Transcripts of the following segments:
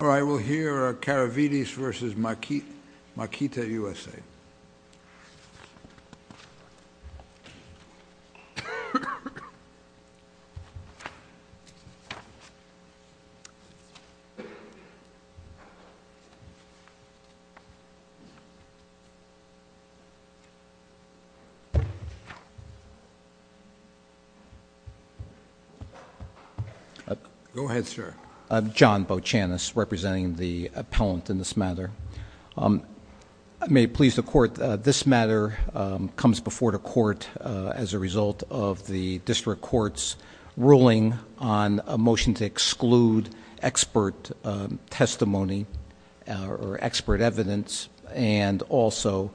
order, I will hear Karavitis v. Makita U.S.A. Go ahead, sir. John Bochanas, representing the appellant in this matter. May it please the court, this matter comes before the court as a result of the district court's ruling on a motion to exclude expert testimony or expert evidence, and also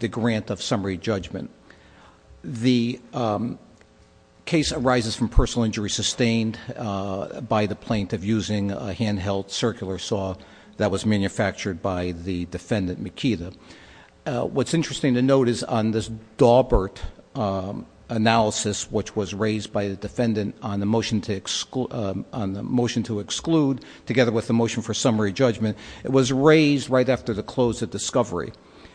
the grant of summary judgment. The case arises from personal injury sustained by the plaintiff using a handheld circular saw that was manufactured by the defendant, Makita. What's interesting to note is on this Dawbert analysis, which was raised by the defendant on the motion to exclude, together with the motion for summary judgment, it was raised right after the close of discovery.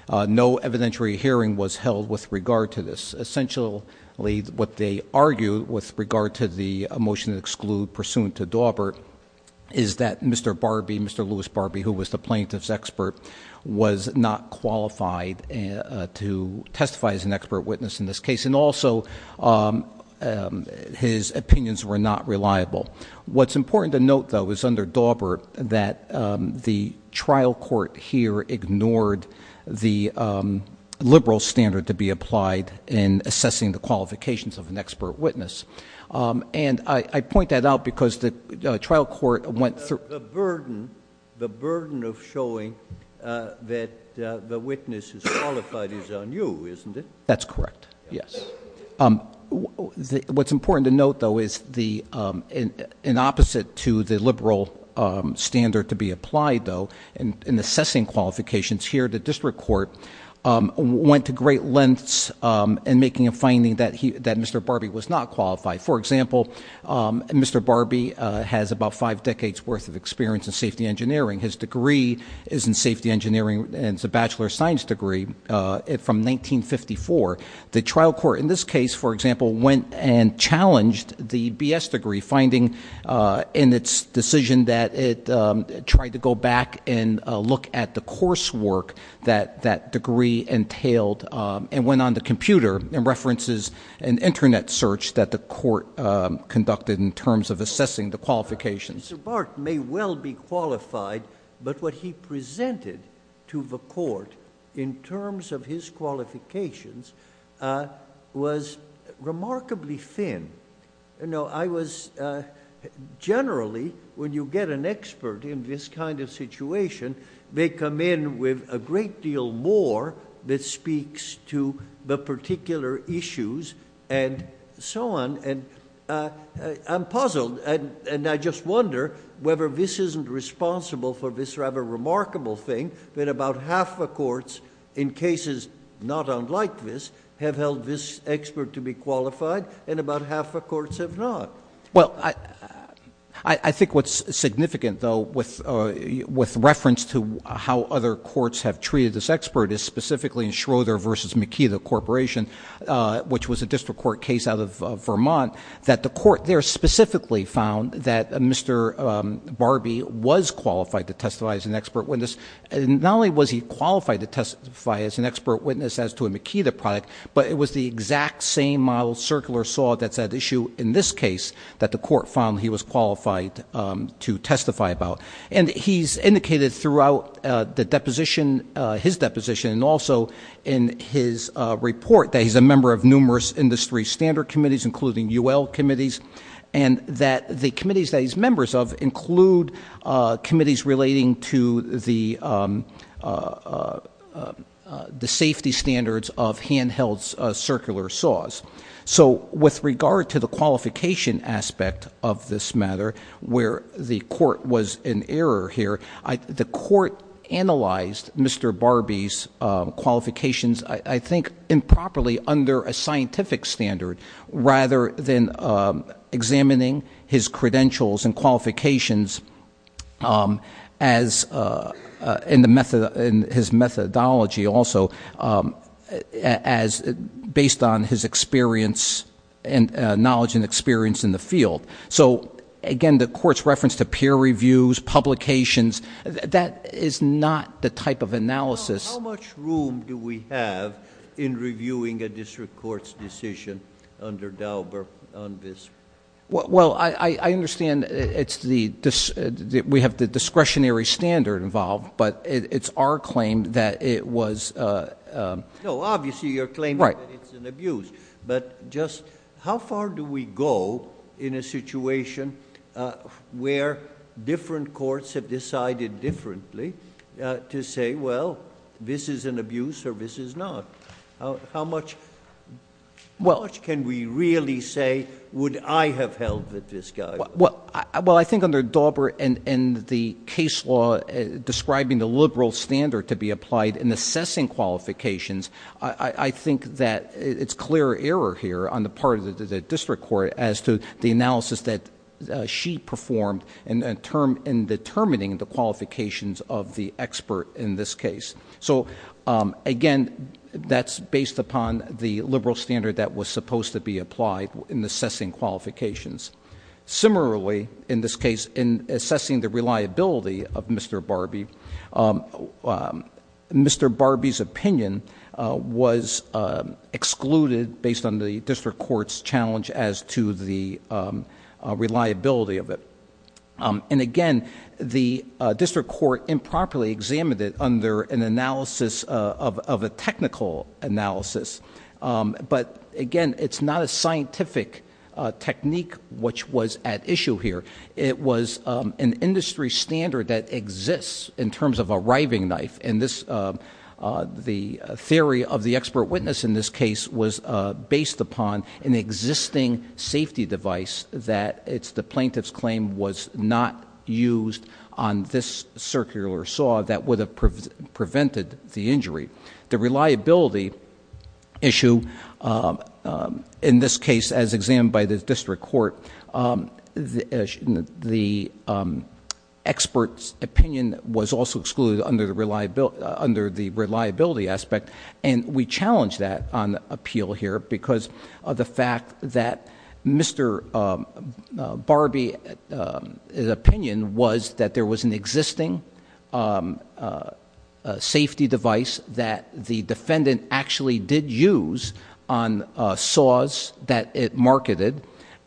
No evidentiary hearing was held with regard to this. Essentially, what they argued with regard to the motion to exclude pursuant to Dawbert is that Mr. Barbee, Mr. Louis Barbee, who was the plaintiff's expert, was not qualified to testify as an expert witness in this case. And also, his opinions were not reliable. What's important to note, though, is under Dawbert that the trial court here ignored the liberal standard to be applied in assessing the qualifications of an expert witness. And I point that out because the trial court went through- The burden of showing that the witness is qualified is on you, isn't it? That's correct, yes. What's important to note, though, is in opposite to the liberal standard to be applied, though, in assessing qualifications here, the district court went to great lengths in making a finding that Mr. Barbee was not qualified. For example, Mr. Barbee has about five decades worth of experience in safety engineering. His degree is in safety engineering, and it's a bachelor of science degree from 1954. The trial court in this case, for example, went and challenged the BS degree, finding in its decision that it tried to go back and look at the coursework that that degree entailed, and went on the computer and references an internet search that the court conducted in terms of assessing the qualifications. Mr. Barbee may well be qualified, but what he presented to the court in terms of his qualifications was remarkably thin. Generally, when you get an expert in this kind of situation, they come in with a great deal more that speaks to the particular issues and so on. And I'm puzzled, and I just wonder whether this isn't responsible for this rather remarkable thing that about half the courts in cases not unlike this have held this expert to be qualified, and about half the courts have not. Well, I think what's significant, though, with reference to how other courts have treated this expert, is specifically in Schroeder versus McKee, the corporation, which was a district court case out of Vermont. That the court there specifically found that Mr. Barbee was qualified to testify as an expert witness. And not only was he qualified to testify as an expert witness as to a McKee the product, but it was the exact same model circular saw that's at issue in this case that the court found he was qualified to testify about. And he's indicated throughout the deposition, his deposition, and also in his report that he's a member of numerous industry standard committees, including UL committees. And that the committees that he's members of include committees relating to the safety standards of handheld circular saws. So with regard to the qualification aspect of this matter, where the court was in error here, the court analyzed Mr. Barbee's qualifications, I think, improperly under a scientific standard. Rather than examining his credentials and qualifications as in his methodology, also as based on his experience and knowledge and experience in the field. So again, the court's reference to peer reviews, publications, that is not the type of analysis- How much room do we have in reviewing a district court's decision under Dauber on this? Well, I understand we have the discretionary standard involved, but it's our claim that it was- No, obviously you're claiming that it's an abuse. But just how far do we go in a situation where different courts have decided differently to say, well, this is an abuse or this is not? How much can we really say, would I have held that this guy- Well, I think under Dauber and the case law describing the liberal standard to be applied in assessing qualifications, I think that it's clear error here on the part of the district court as to the analysis that she performed in determining the qualifications of the expert in this case. So again, that's based upon the liberal standard that was supposed to be applied in assessing qualifications. Similarly, in this case, in assessing the reliability of Mr. Barbee, Mr. Barbee's opinion was excluded based on the district court's challenge as to the reliability of it. And again, the district court improperly examined it under an analysis of a technical analysis. But again, it's not a scientific technique which was at issue here. It was an industry standard that exists in terms of a riving knife. And the theory of the expert witness in this case was based upon an existing safety device that the plaintiff's claim was not used on this circular saw that would have prevented the injury. The reliability issue, in this case, as examined by the district court, the expert's claim was excluded under the reliability aspect. And we challenge that on appeal here, because of the fact that Mr. Barbee's opinion was that there was an existing safety device that the defendant actually did use on saws that it marketed.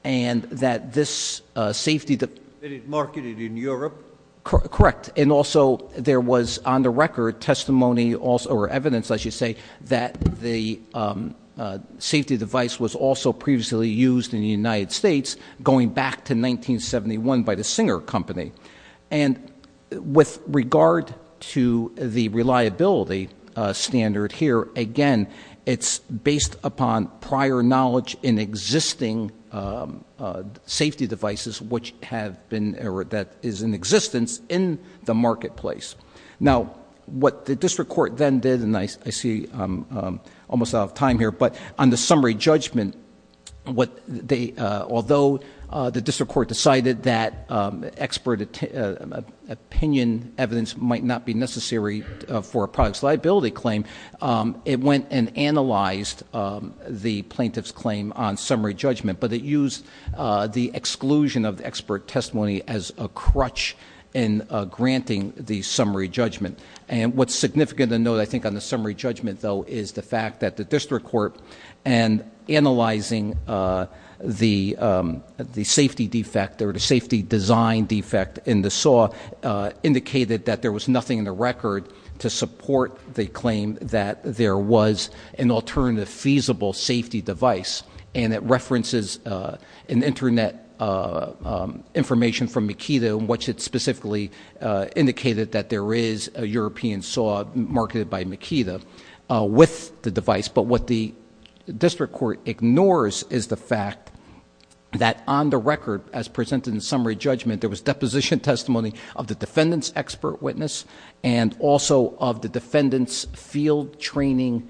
And that this safety- That it marketed in Europe? Correct, and also there was on the record testimony or evidence, I should say, that the safety device was also previously used in the United States, going back to 1971 by the Singer Company. And with regard to the reliability standard here, again, it's based upon prior knowledge in existing safety devices which have been, or that is in existence in the marketplace. Now, what the district court then did, and I see I'm almost out of time here, but on the summary judgment, although the district court decided that expert opinion evidence might not be necessary for a product's liability claim. It went and analyzed the plaintiff's claim on summary judgment, but it used the exclusion of the expert testimony as a crutch in granting the summary judgment. And what's significant to note, I think, on the summary judgment, though, is the fact that the district court and analyzing the safety defect or the safety design defect in the saw indicated that there was nothing in the record to support the claim that there was an alternative feasible safety device. And it references an internet information from Makeda in which it specifically indicated that there is a European saw marketed by Makeda with the device. But what the district court ignores is the fact that on the record, as presented in summary judgment, there was deposition testimony of the defendant's expert witness and also of the defendant's field training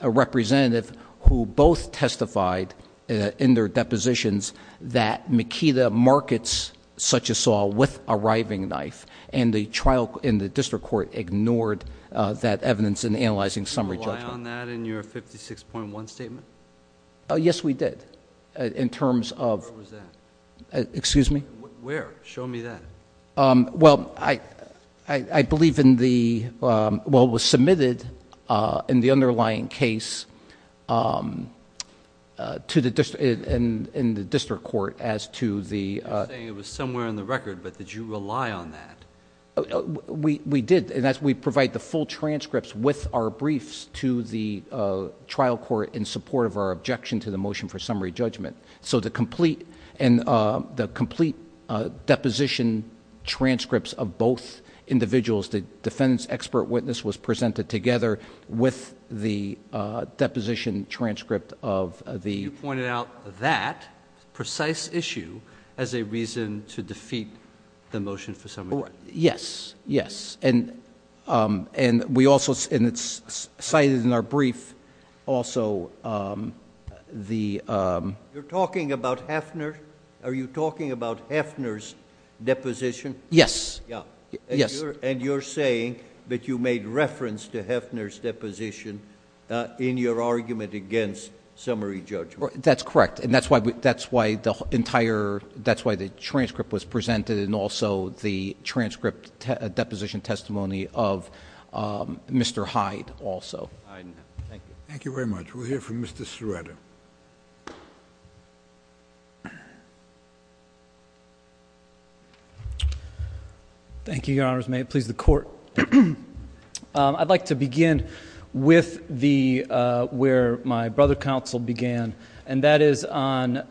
representative, who both testified in their depositions that Makeda markets such a saw with a riving knife. And the trial in the district court ignored that evidence in analyzing summary judgment. Did you rely on that in your 56.1 statement? Yes, we did, in terms of- Where was that? Excuse me? Where? Show me that. Well, I believe in the, well, it was submitted in the underlying case to the district, in the district court as to the- You're saying it was somewhere in the record, but did you rely on that? We did, and as we provide the full transcripts with our briefs to the trial court in support of our objection to the motion for summary judgment. So the complete deposition transcripts of both individuals, the defendant's expert witness was presented together with the deposition transcript of the- Yes, yes, and we also, and it's cited in our brief also the- You're talking about Heffner? Are you talking about Heffner's deposition? Yes. Yeah. Yes. And you're saying that you made reference to Heffner's deposition in your argument against summary judgment. That's correct, and that's why the entire, that's why the transcript was presented and also the transcript deposition testimony of Mr. Hyde also. All right, thank you. Thank you very much. We'll hear from Mr. Serrata. Thank you, Your Honors. May it please the court, I'd like to begin with the, where my brother counsel began, and that is on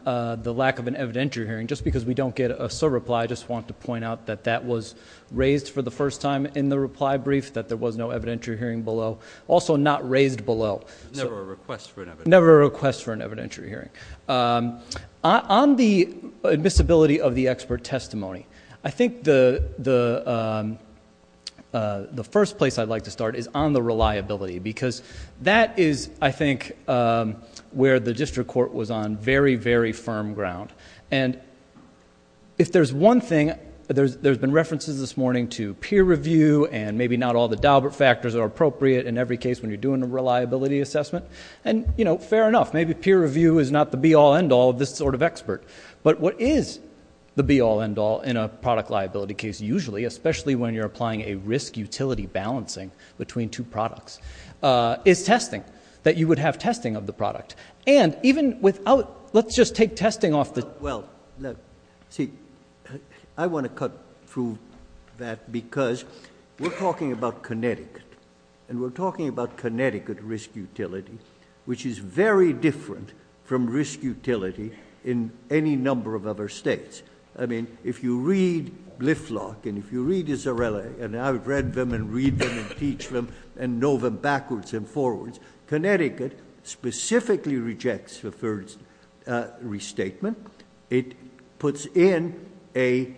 the lack of an evidentiary hearing. Just because we don't get a sub-reply, I just want to point out that that was raised for the first time in the reply brief, that there was no evidentiary hearing below. Also not raised below. Never a request for an evidentiary. Never a request for an evidentiary hearing. On the admissibility of the expert testimony, I think the first place I'd like to start is on the reliability. Because that is, I think, where the district court was on very, very firm ground. And if there's one thing, there's been references this morning to peer review and maybe not all the Daubert factors are appropriate in every case when you're doing a reliability assessment. And fair enough, maybe peer review is not the be all, end all of this sort of expert. But what is the be all, end all in a product liability case usually, especially when you're applying a risk utility balancing between two products, is testing. That you would have testing of the product. And even without, let's just take testing off the- Well, see, I want to cut through that because we're talking about Connecticut. And we're talking about Connecticut risk utility, which is very different from risk utility in any number of other states. I mean, if you read Lifflock, and if you read Isarella, and I've read them, and read them, and teach them, and know them backwards and forwards. Connecticut specifically rejects the first restatement. It puts in a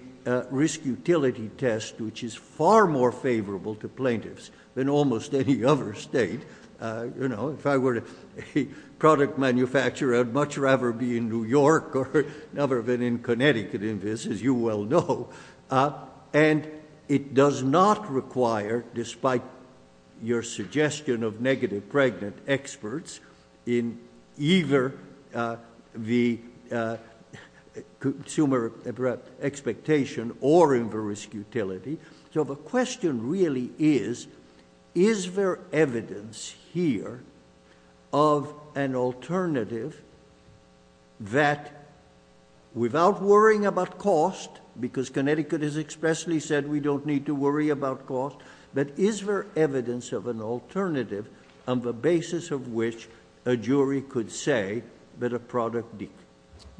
risk utility test, which is far more favorable to plaintiffs than almost any other state. If I were a product manufacturer, I'd much rather be in New York or never been in Connecticut in this, as you well know. And it does not require, despite your suggestion of negative pregnant experts, in either the consumer expectation or in the risk utility. So the question really is, is there evidence here of an alternative that without worrying about cost. Because Connecticut has expressly said we don't need to worry about cost. But is there evidence of an alternative on the basis of which a jury could say that a product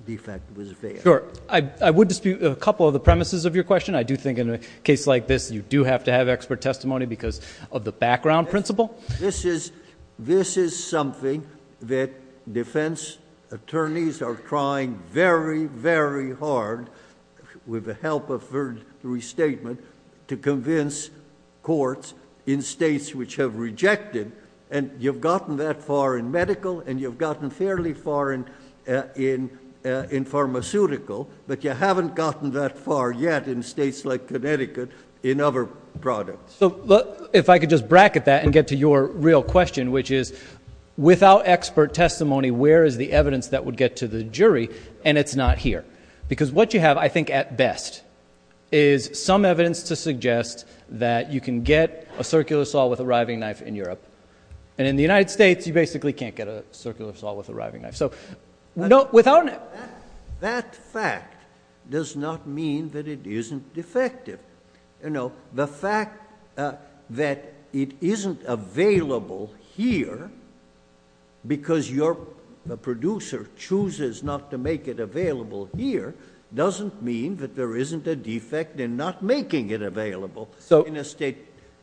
defect was there? Sure, I would dispute a couple of the premises of your question. I do think in a case like this, you do have to have expert testimony because of the background principle. This is something that defense attorneys are trying very, very hard with the help of third restatement to convince courts in states which have rejected. And you've gotten that far in medical, and you've gotten fairly far in pharmaceutical. But you haven't gotten that far yet in states like Connecticut in other products. So if I could just bracket that and get to your real question, which is without expert testimony, where is the evidence that would get to the jury, and it's not here. Because what you have, I think at best, is some evidence to suggest that you can get a circular saw with a riving knife in Europe. And in the United States, you basically can't get a circular saw with a riving knife. So without- That fact does not mean that it isn't defective. The fact that it isn't available here, because your producer chooses not to make it available here, doesn't mean that there isn't a defect in not making it available in a state.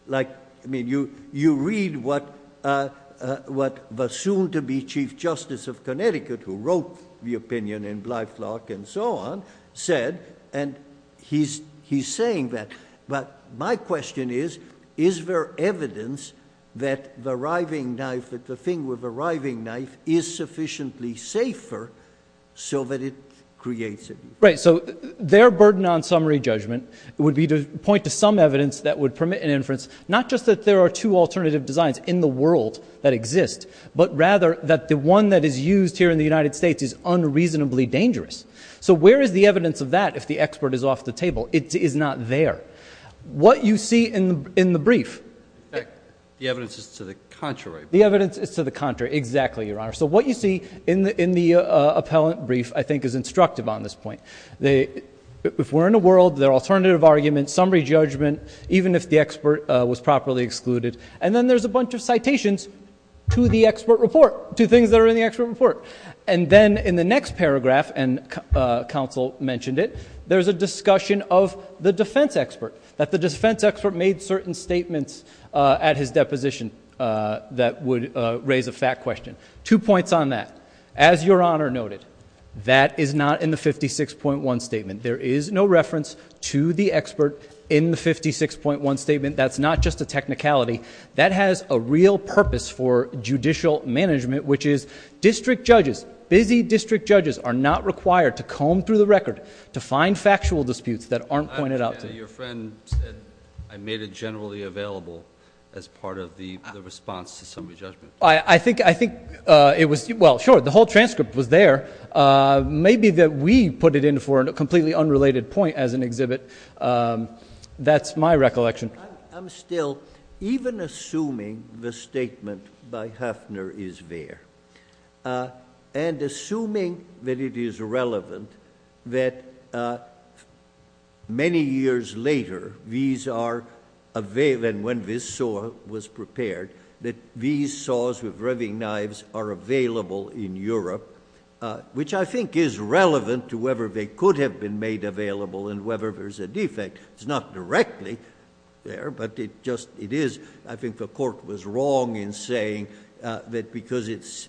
Like, I mean, you read what the soon-to-be Chief Justice of Connecticut, who wrote the opinion in Blythlock and so on, said, and he's saying that. But my question is, is there evidence that the riving knife, that the thing with the riving knife is sufficiently safer so that it creates it? Right, so their burden on summary judgment would be to point to some evidence that would permit an inference, not just that there are two alternative designs in the world that exist, but rather that the one that is used here in the United States is unreasonably dangerous. So where is the evidence of that if the expert is off the table? It is not there. What you see in the brief- The evidence is to the contrary. The evidence is to the contrary, exactly, Your Honor. So what you see in the appellant brief, I think, is instructive on this point. If we're in a world, there are alternative arguments, summary judgment, even if the expert was properly excluded. And then there's a bunch of citations to the expert report, to things that are in the expert report. And then in the next paragraph, and counsel mentioned it, there's a discussion of the defense expert. That the defense expert made certain statements at his deposition that would raise a fact question. Two points on that. As Your Honor noted, that is not in the 56.1 statement. There is no reference to the expert in the 56.1 statement. That's not just a technicality. That has a real purpose for judicial management, which is district judges, busy district judges are not required to comb through the record to find factual disputes that aren't pointed out to- Your friend said I made it generally available as part of the response to summary judgment. I think it was, well sure, the whole transcript was there. Maybe that we put it in for a completely unrelated point as an exhibit. That's my recollection. I'm still, even assuming the statement by Huffner is there. And assuming that it is relevant that many years later, these are available, and when this saw was prepared, that these saws with revving knives are available in Europe. Which I think is relevant to whether they could have been made available and whether there's a defect. It's not directly there, but it just, it is. I think the court was wrong in saying that because it's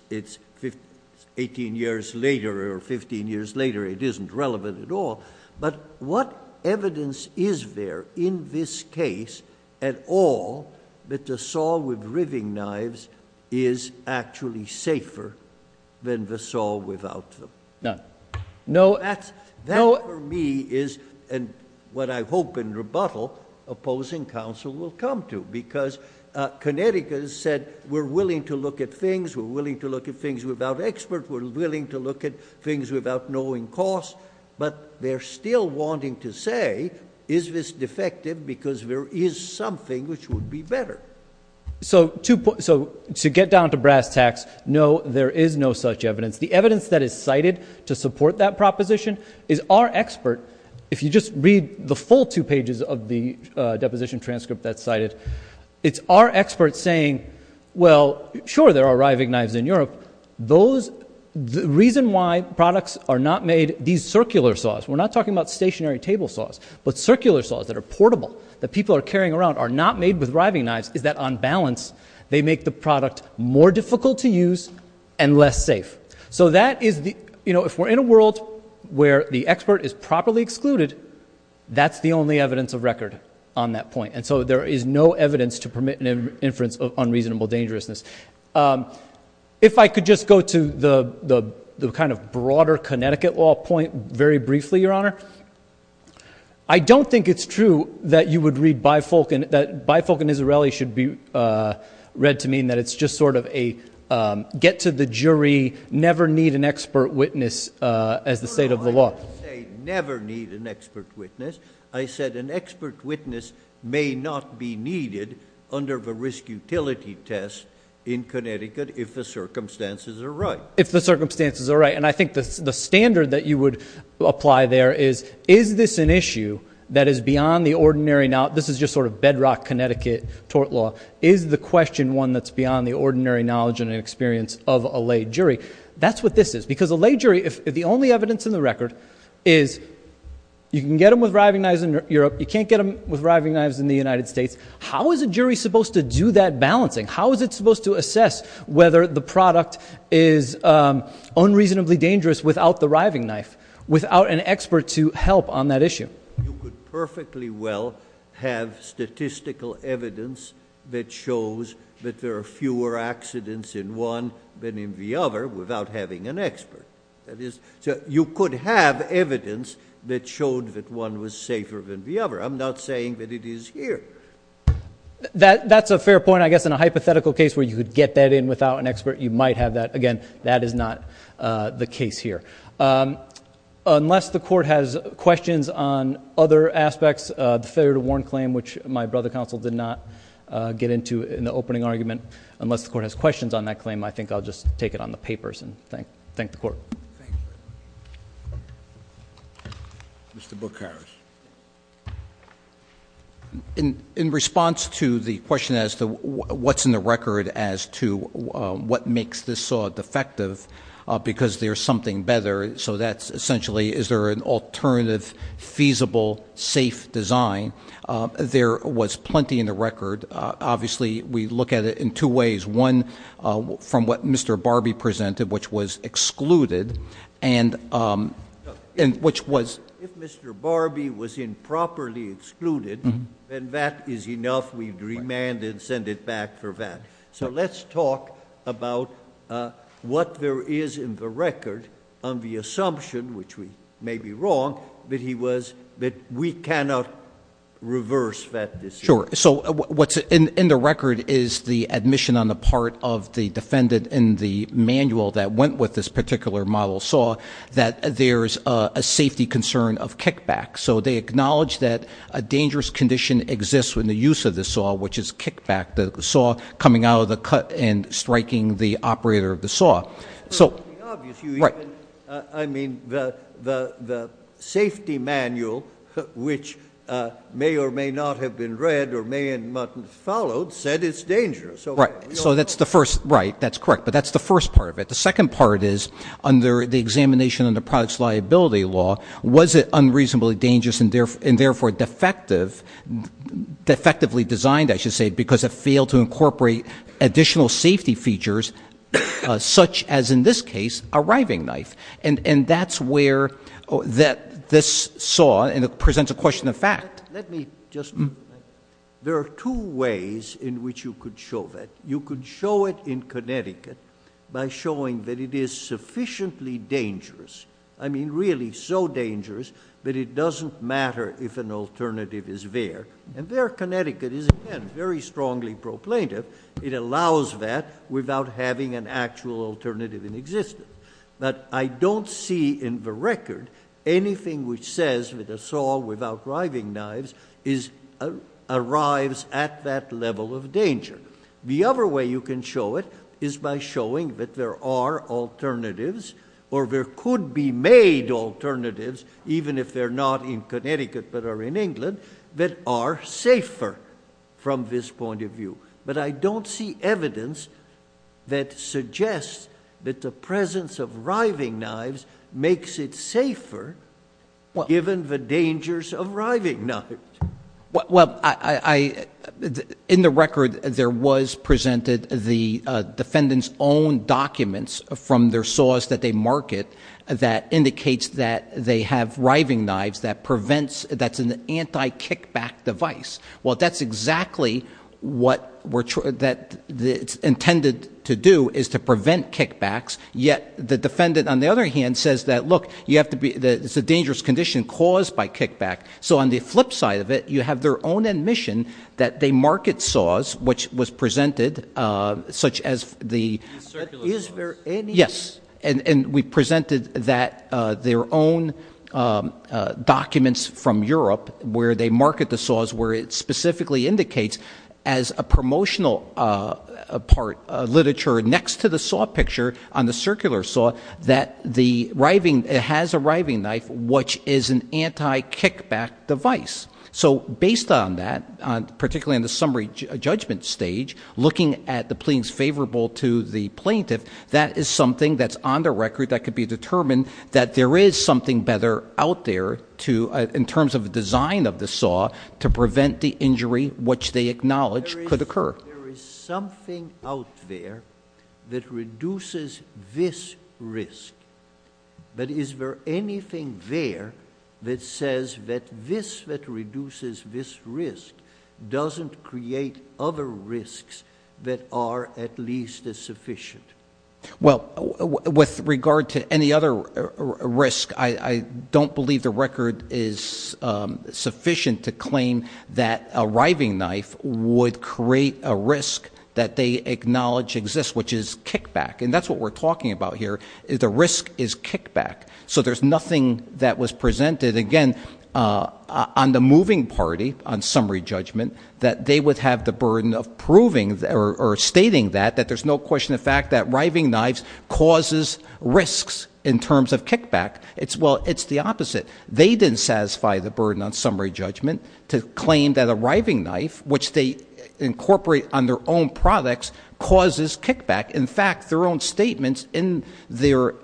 18 years later or 15 years later, it isn't relevant at all. But what evidence is there in this case at all, that the saw with revving knives is actually safer than the saw without them? None. No- That for me is, and what I hope in rebuttal, opposing counsel will come to, because Connecticut has said we're willing to look at things. We're willing to look at things without experts. We're willing to look at things without knowing cost. But they're still wanting to say, is this defective because there is something which would be better. So to get down to brass tacks, no, there is no such evidence. The evidence that is cited to support that proposition is our expert. If you just read the full two pages of the deposition transcript that's cited, it's our expert saying, well, sure there are riving knives in Europe. The reason why products are not made, these circular saws, we're not talking about stationary table saws, but circular saws that are portable, that people are carrying around, are not made with riving knives, is that on balance they make the product more difficult to use and less safe. So if we're in a world where the expert is properly excluded, that's the only evidence of record on that point, and so there is no evidence to permit an inference of unreasonable dangerousness. If I could just go to the kind of broader Connecticut law point very briefly, Your Honor. I don't think it's true that you would read Bifolk, and Bifolk and Nizzarelli should be read to mean that it's just sort of a get to the jury, never need an expert witness as the state of the law. I would say never need an expert witness. I said an expert witness may not be needed under the risk utility test in Connecticut if the circumstances are right. If the circumstances are right, and I think the standard that you would apply there is, is this an issue that is beyond the ordinary, now this is just sort of bedrock Connecticut tort law. Is the question one that's beyond the ordinary knowledge and experience of a lay jury? That's what this is, because a lay jury, if the only evidence in the record is you can get them with riving knives in Europe, you can't get them with riving knives in the United States, how is a jury supposed to do that balancing? How is it supposed to assess whether the product is unreasonably dangerous without the riving knife? Without an expert to help on that issue. You could perfectly well have statistical evidence that shows that there are fewer accidents in one than in the other without having an expert. That is, you could have evidence that showed that one was safer than the other. I'm not saying that it is here. That's a fair point. I guess in a hypothetical case where you could get that in without an expert, you might have that. Again, that is not the case here. Unless the court has questions on other aspects, the failure to warn claim, which my brother counsel did not get into in the opening argument. Unless the court has questions on that claim, I think I'll just take it on the papers and thank the court. Thank you. Mr. Bucharest. In response to the question as to what's in the record as to what makes this saw defective, because there's something better, so that's essentially, is there an alternative, feasible, safe design? There was plenty in the record. Obviously, we look at it in two ways. One, from what Mr. Barbie presented, which was excluded, and which was- If Mr. Barbie was improperly excluded, then that is enough. We'd remand and send it back for that. So let's talk about what there is in the record on the assumption, which we may be wrong, that we cannot reverse that decision. Sure. So what's in the record is the admission on the part of the defendant in the manual that went with this particular model saw that there's a safety concern of kickback. So they acknowledge that a dangerous condition exists when the use of the saw, which is kickback, the saw coming out of the cut and striking the operator of the saw. So, right. I mean, the safety manual, which may or may not have been read or may not have been followed, said it's dangerous. Right. So that's the first, right, that's correct. But that's the first part of it. The second part is, under the examination of the product's liability law, was it unreasonably dangerous and therefore defectively designed, I should say, because it failed to incorporate additional safety features such as, in this case, a riving knife. And that's where this saw, and it presents a question of fact. Let me just, there are two ways in which you could show that. You could show it in Connecticut by showing that it is sufficiently dangerous. I mean, really so dangerous that it doesn't matter if an alternative is there. And there, Connecticut is, again, very strongly pro plaintiff. It allows that without having an actual alternative in existence. But I don't see in the record anything which says that a saw without riving knives arrives at that level of danger. The other way you can show it is by showing that there are alternatives or there could be made alternatives, even if they're not in Connecticut but are in England, that are safer from this point of view. But I don't see evidence that suggests that the presence of riving knives makes it safer given the dangers of riving knives. Well, in the record, there was presented the defendant's own documents from their saws that they market that indicates that they have riving knives that's an anti-kickback device. Well, that's exactly what it's intended to do, is to prevent kickbacks. Yet the defendant, on the other hand, says that, look, it's a dangerous condition caused by kickback. So on the flip side of it, you have their own admission that they market saws, which was presented, such as the- Circular saws. Yes. And we presented that their own documents from Europe, where they market the saws, where it specifically indicates as a promotional part of literature next to the saw picture on the circular saw, that the riving, it has a riving knife, which is an anti-kickback device. So based on that, particularly in the summary judgment stage, looking at the pleadings favorable to the plaintiff, that is something that's on the record that could be determined that there is something better out there in terms of the design of the saw to prevent the injury, which they acknowledge could occur. There is something out there that reduces this risk. But is there anything there that says that this, that reduces this risk, doesn't create other risks that are at least as sufficient? Well, with regard to any other risk, I don't believe the record is sufficient to claim that a riving knife would create a risk that they acknowledge exists, which is kickback. And that's what we're talking about here. The risk is kickback. So there's nothing that was presented, again, on the moving party, on summary judgment, that they would have the burden of proving or stating that, that there's no question of fact that riving knives causes risks in terms of kickback. It's well, it's the opposite. They didn't satisfy the burden on summary judgment to claim that a riving knife, which they incorporate on their own products, causes kickback. In fact, their own statements in their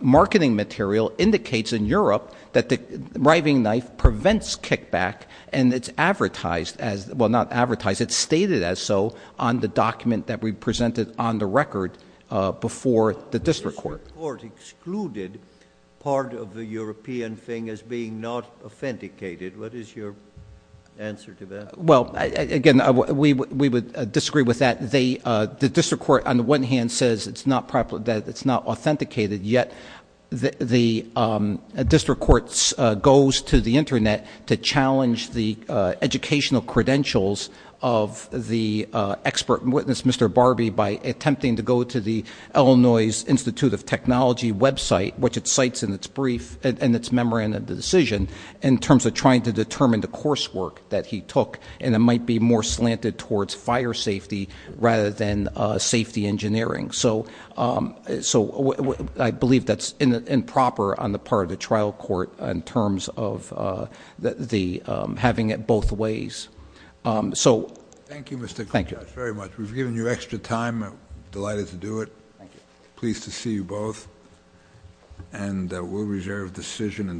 marketing material indicates in Europe that the riving knife prevents kickback and it's advertised as, well not advertised, it's stated as so on the document that we presented on the record before the district court. The district court excluded part of the European thing as being not authenticated. What is your answer to that? Well, again, we would disagree with that. The district court on the one hand says that it's not authenticated, yet the district court goes to the Internet to challenge the educational credentials of the expert witness, Mr. Barbee, by attempting to go to the Illinois Institute of Technology website, which it cites in its brief, in its memorandum of decision, in terms of trying to determine the course work that he took. And it might be more slanted towards fire safety rather than safety engineering. So I believe that's improper on the part of the trial court in terms of having it both ways. So- Thank you, Mr. Contreras, very much. We've given you extra time. Delighted to do it. Pleased to see you both, and we'll reserve decision.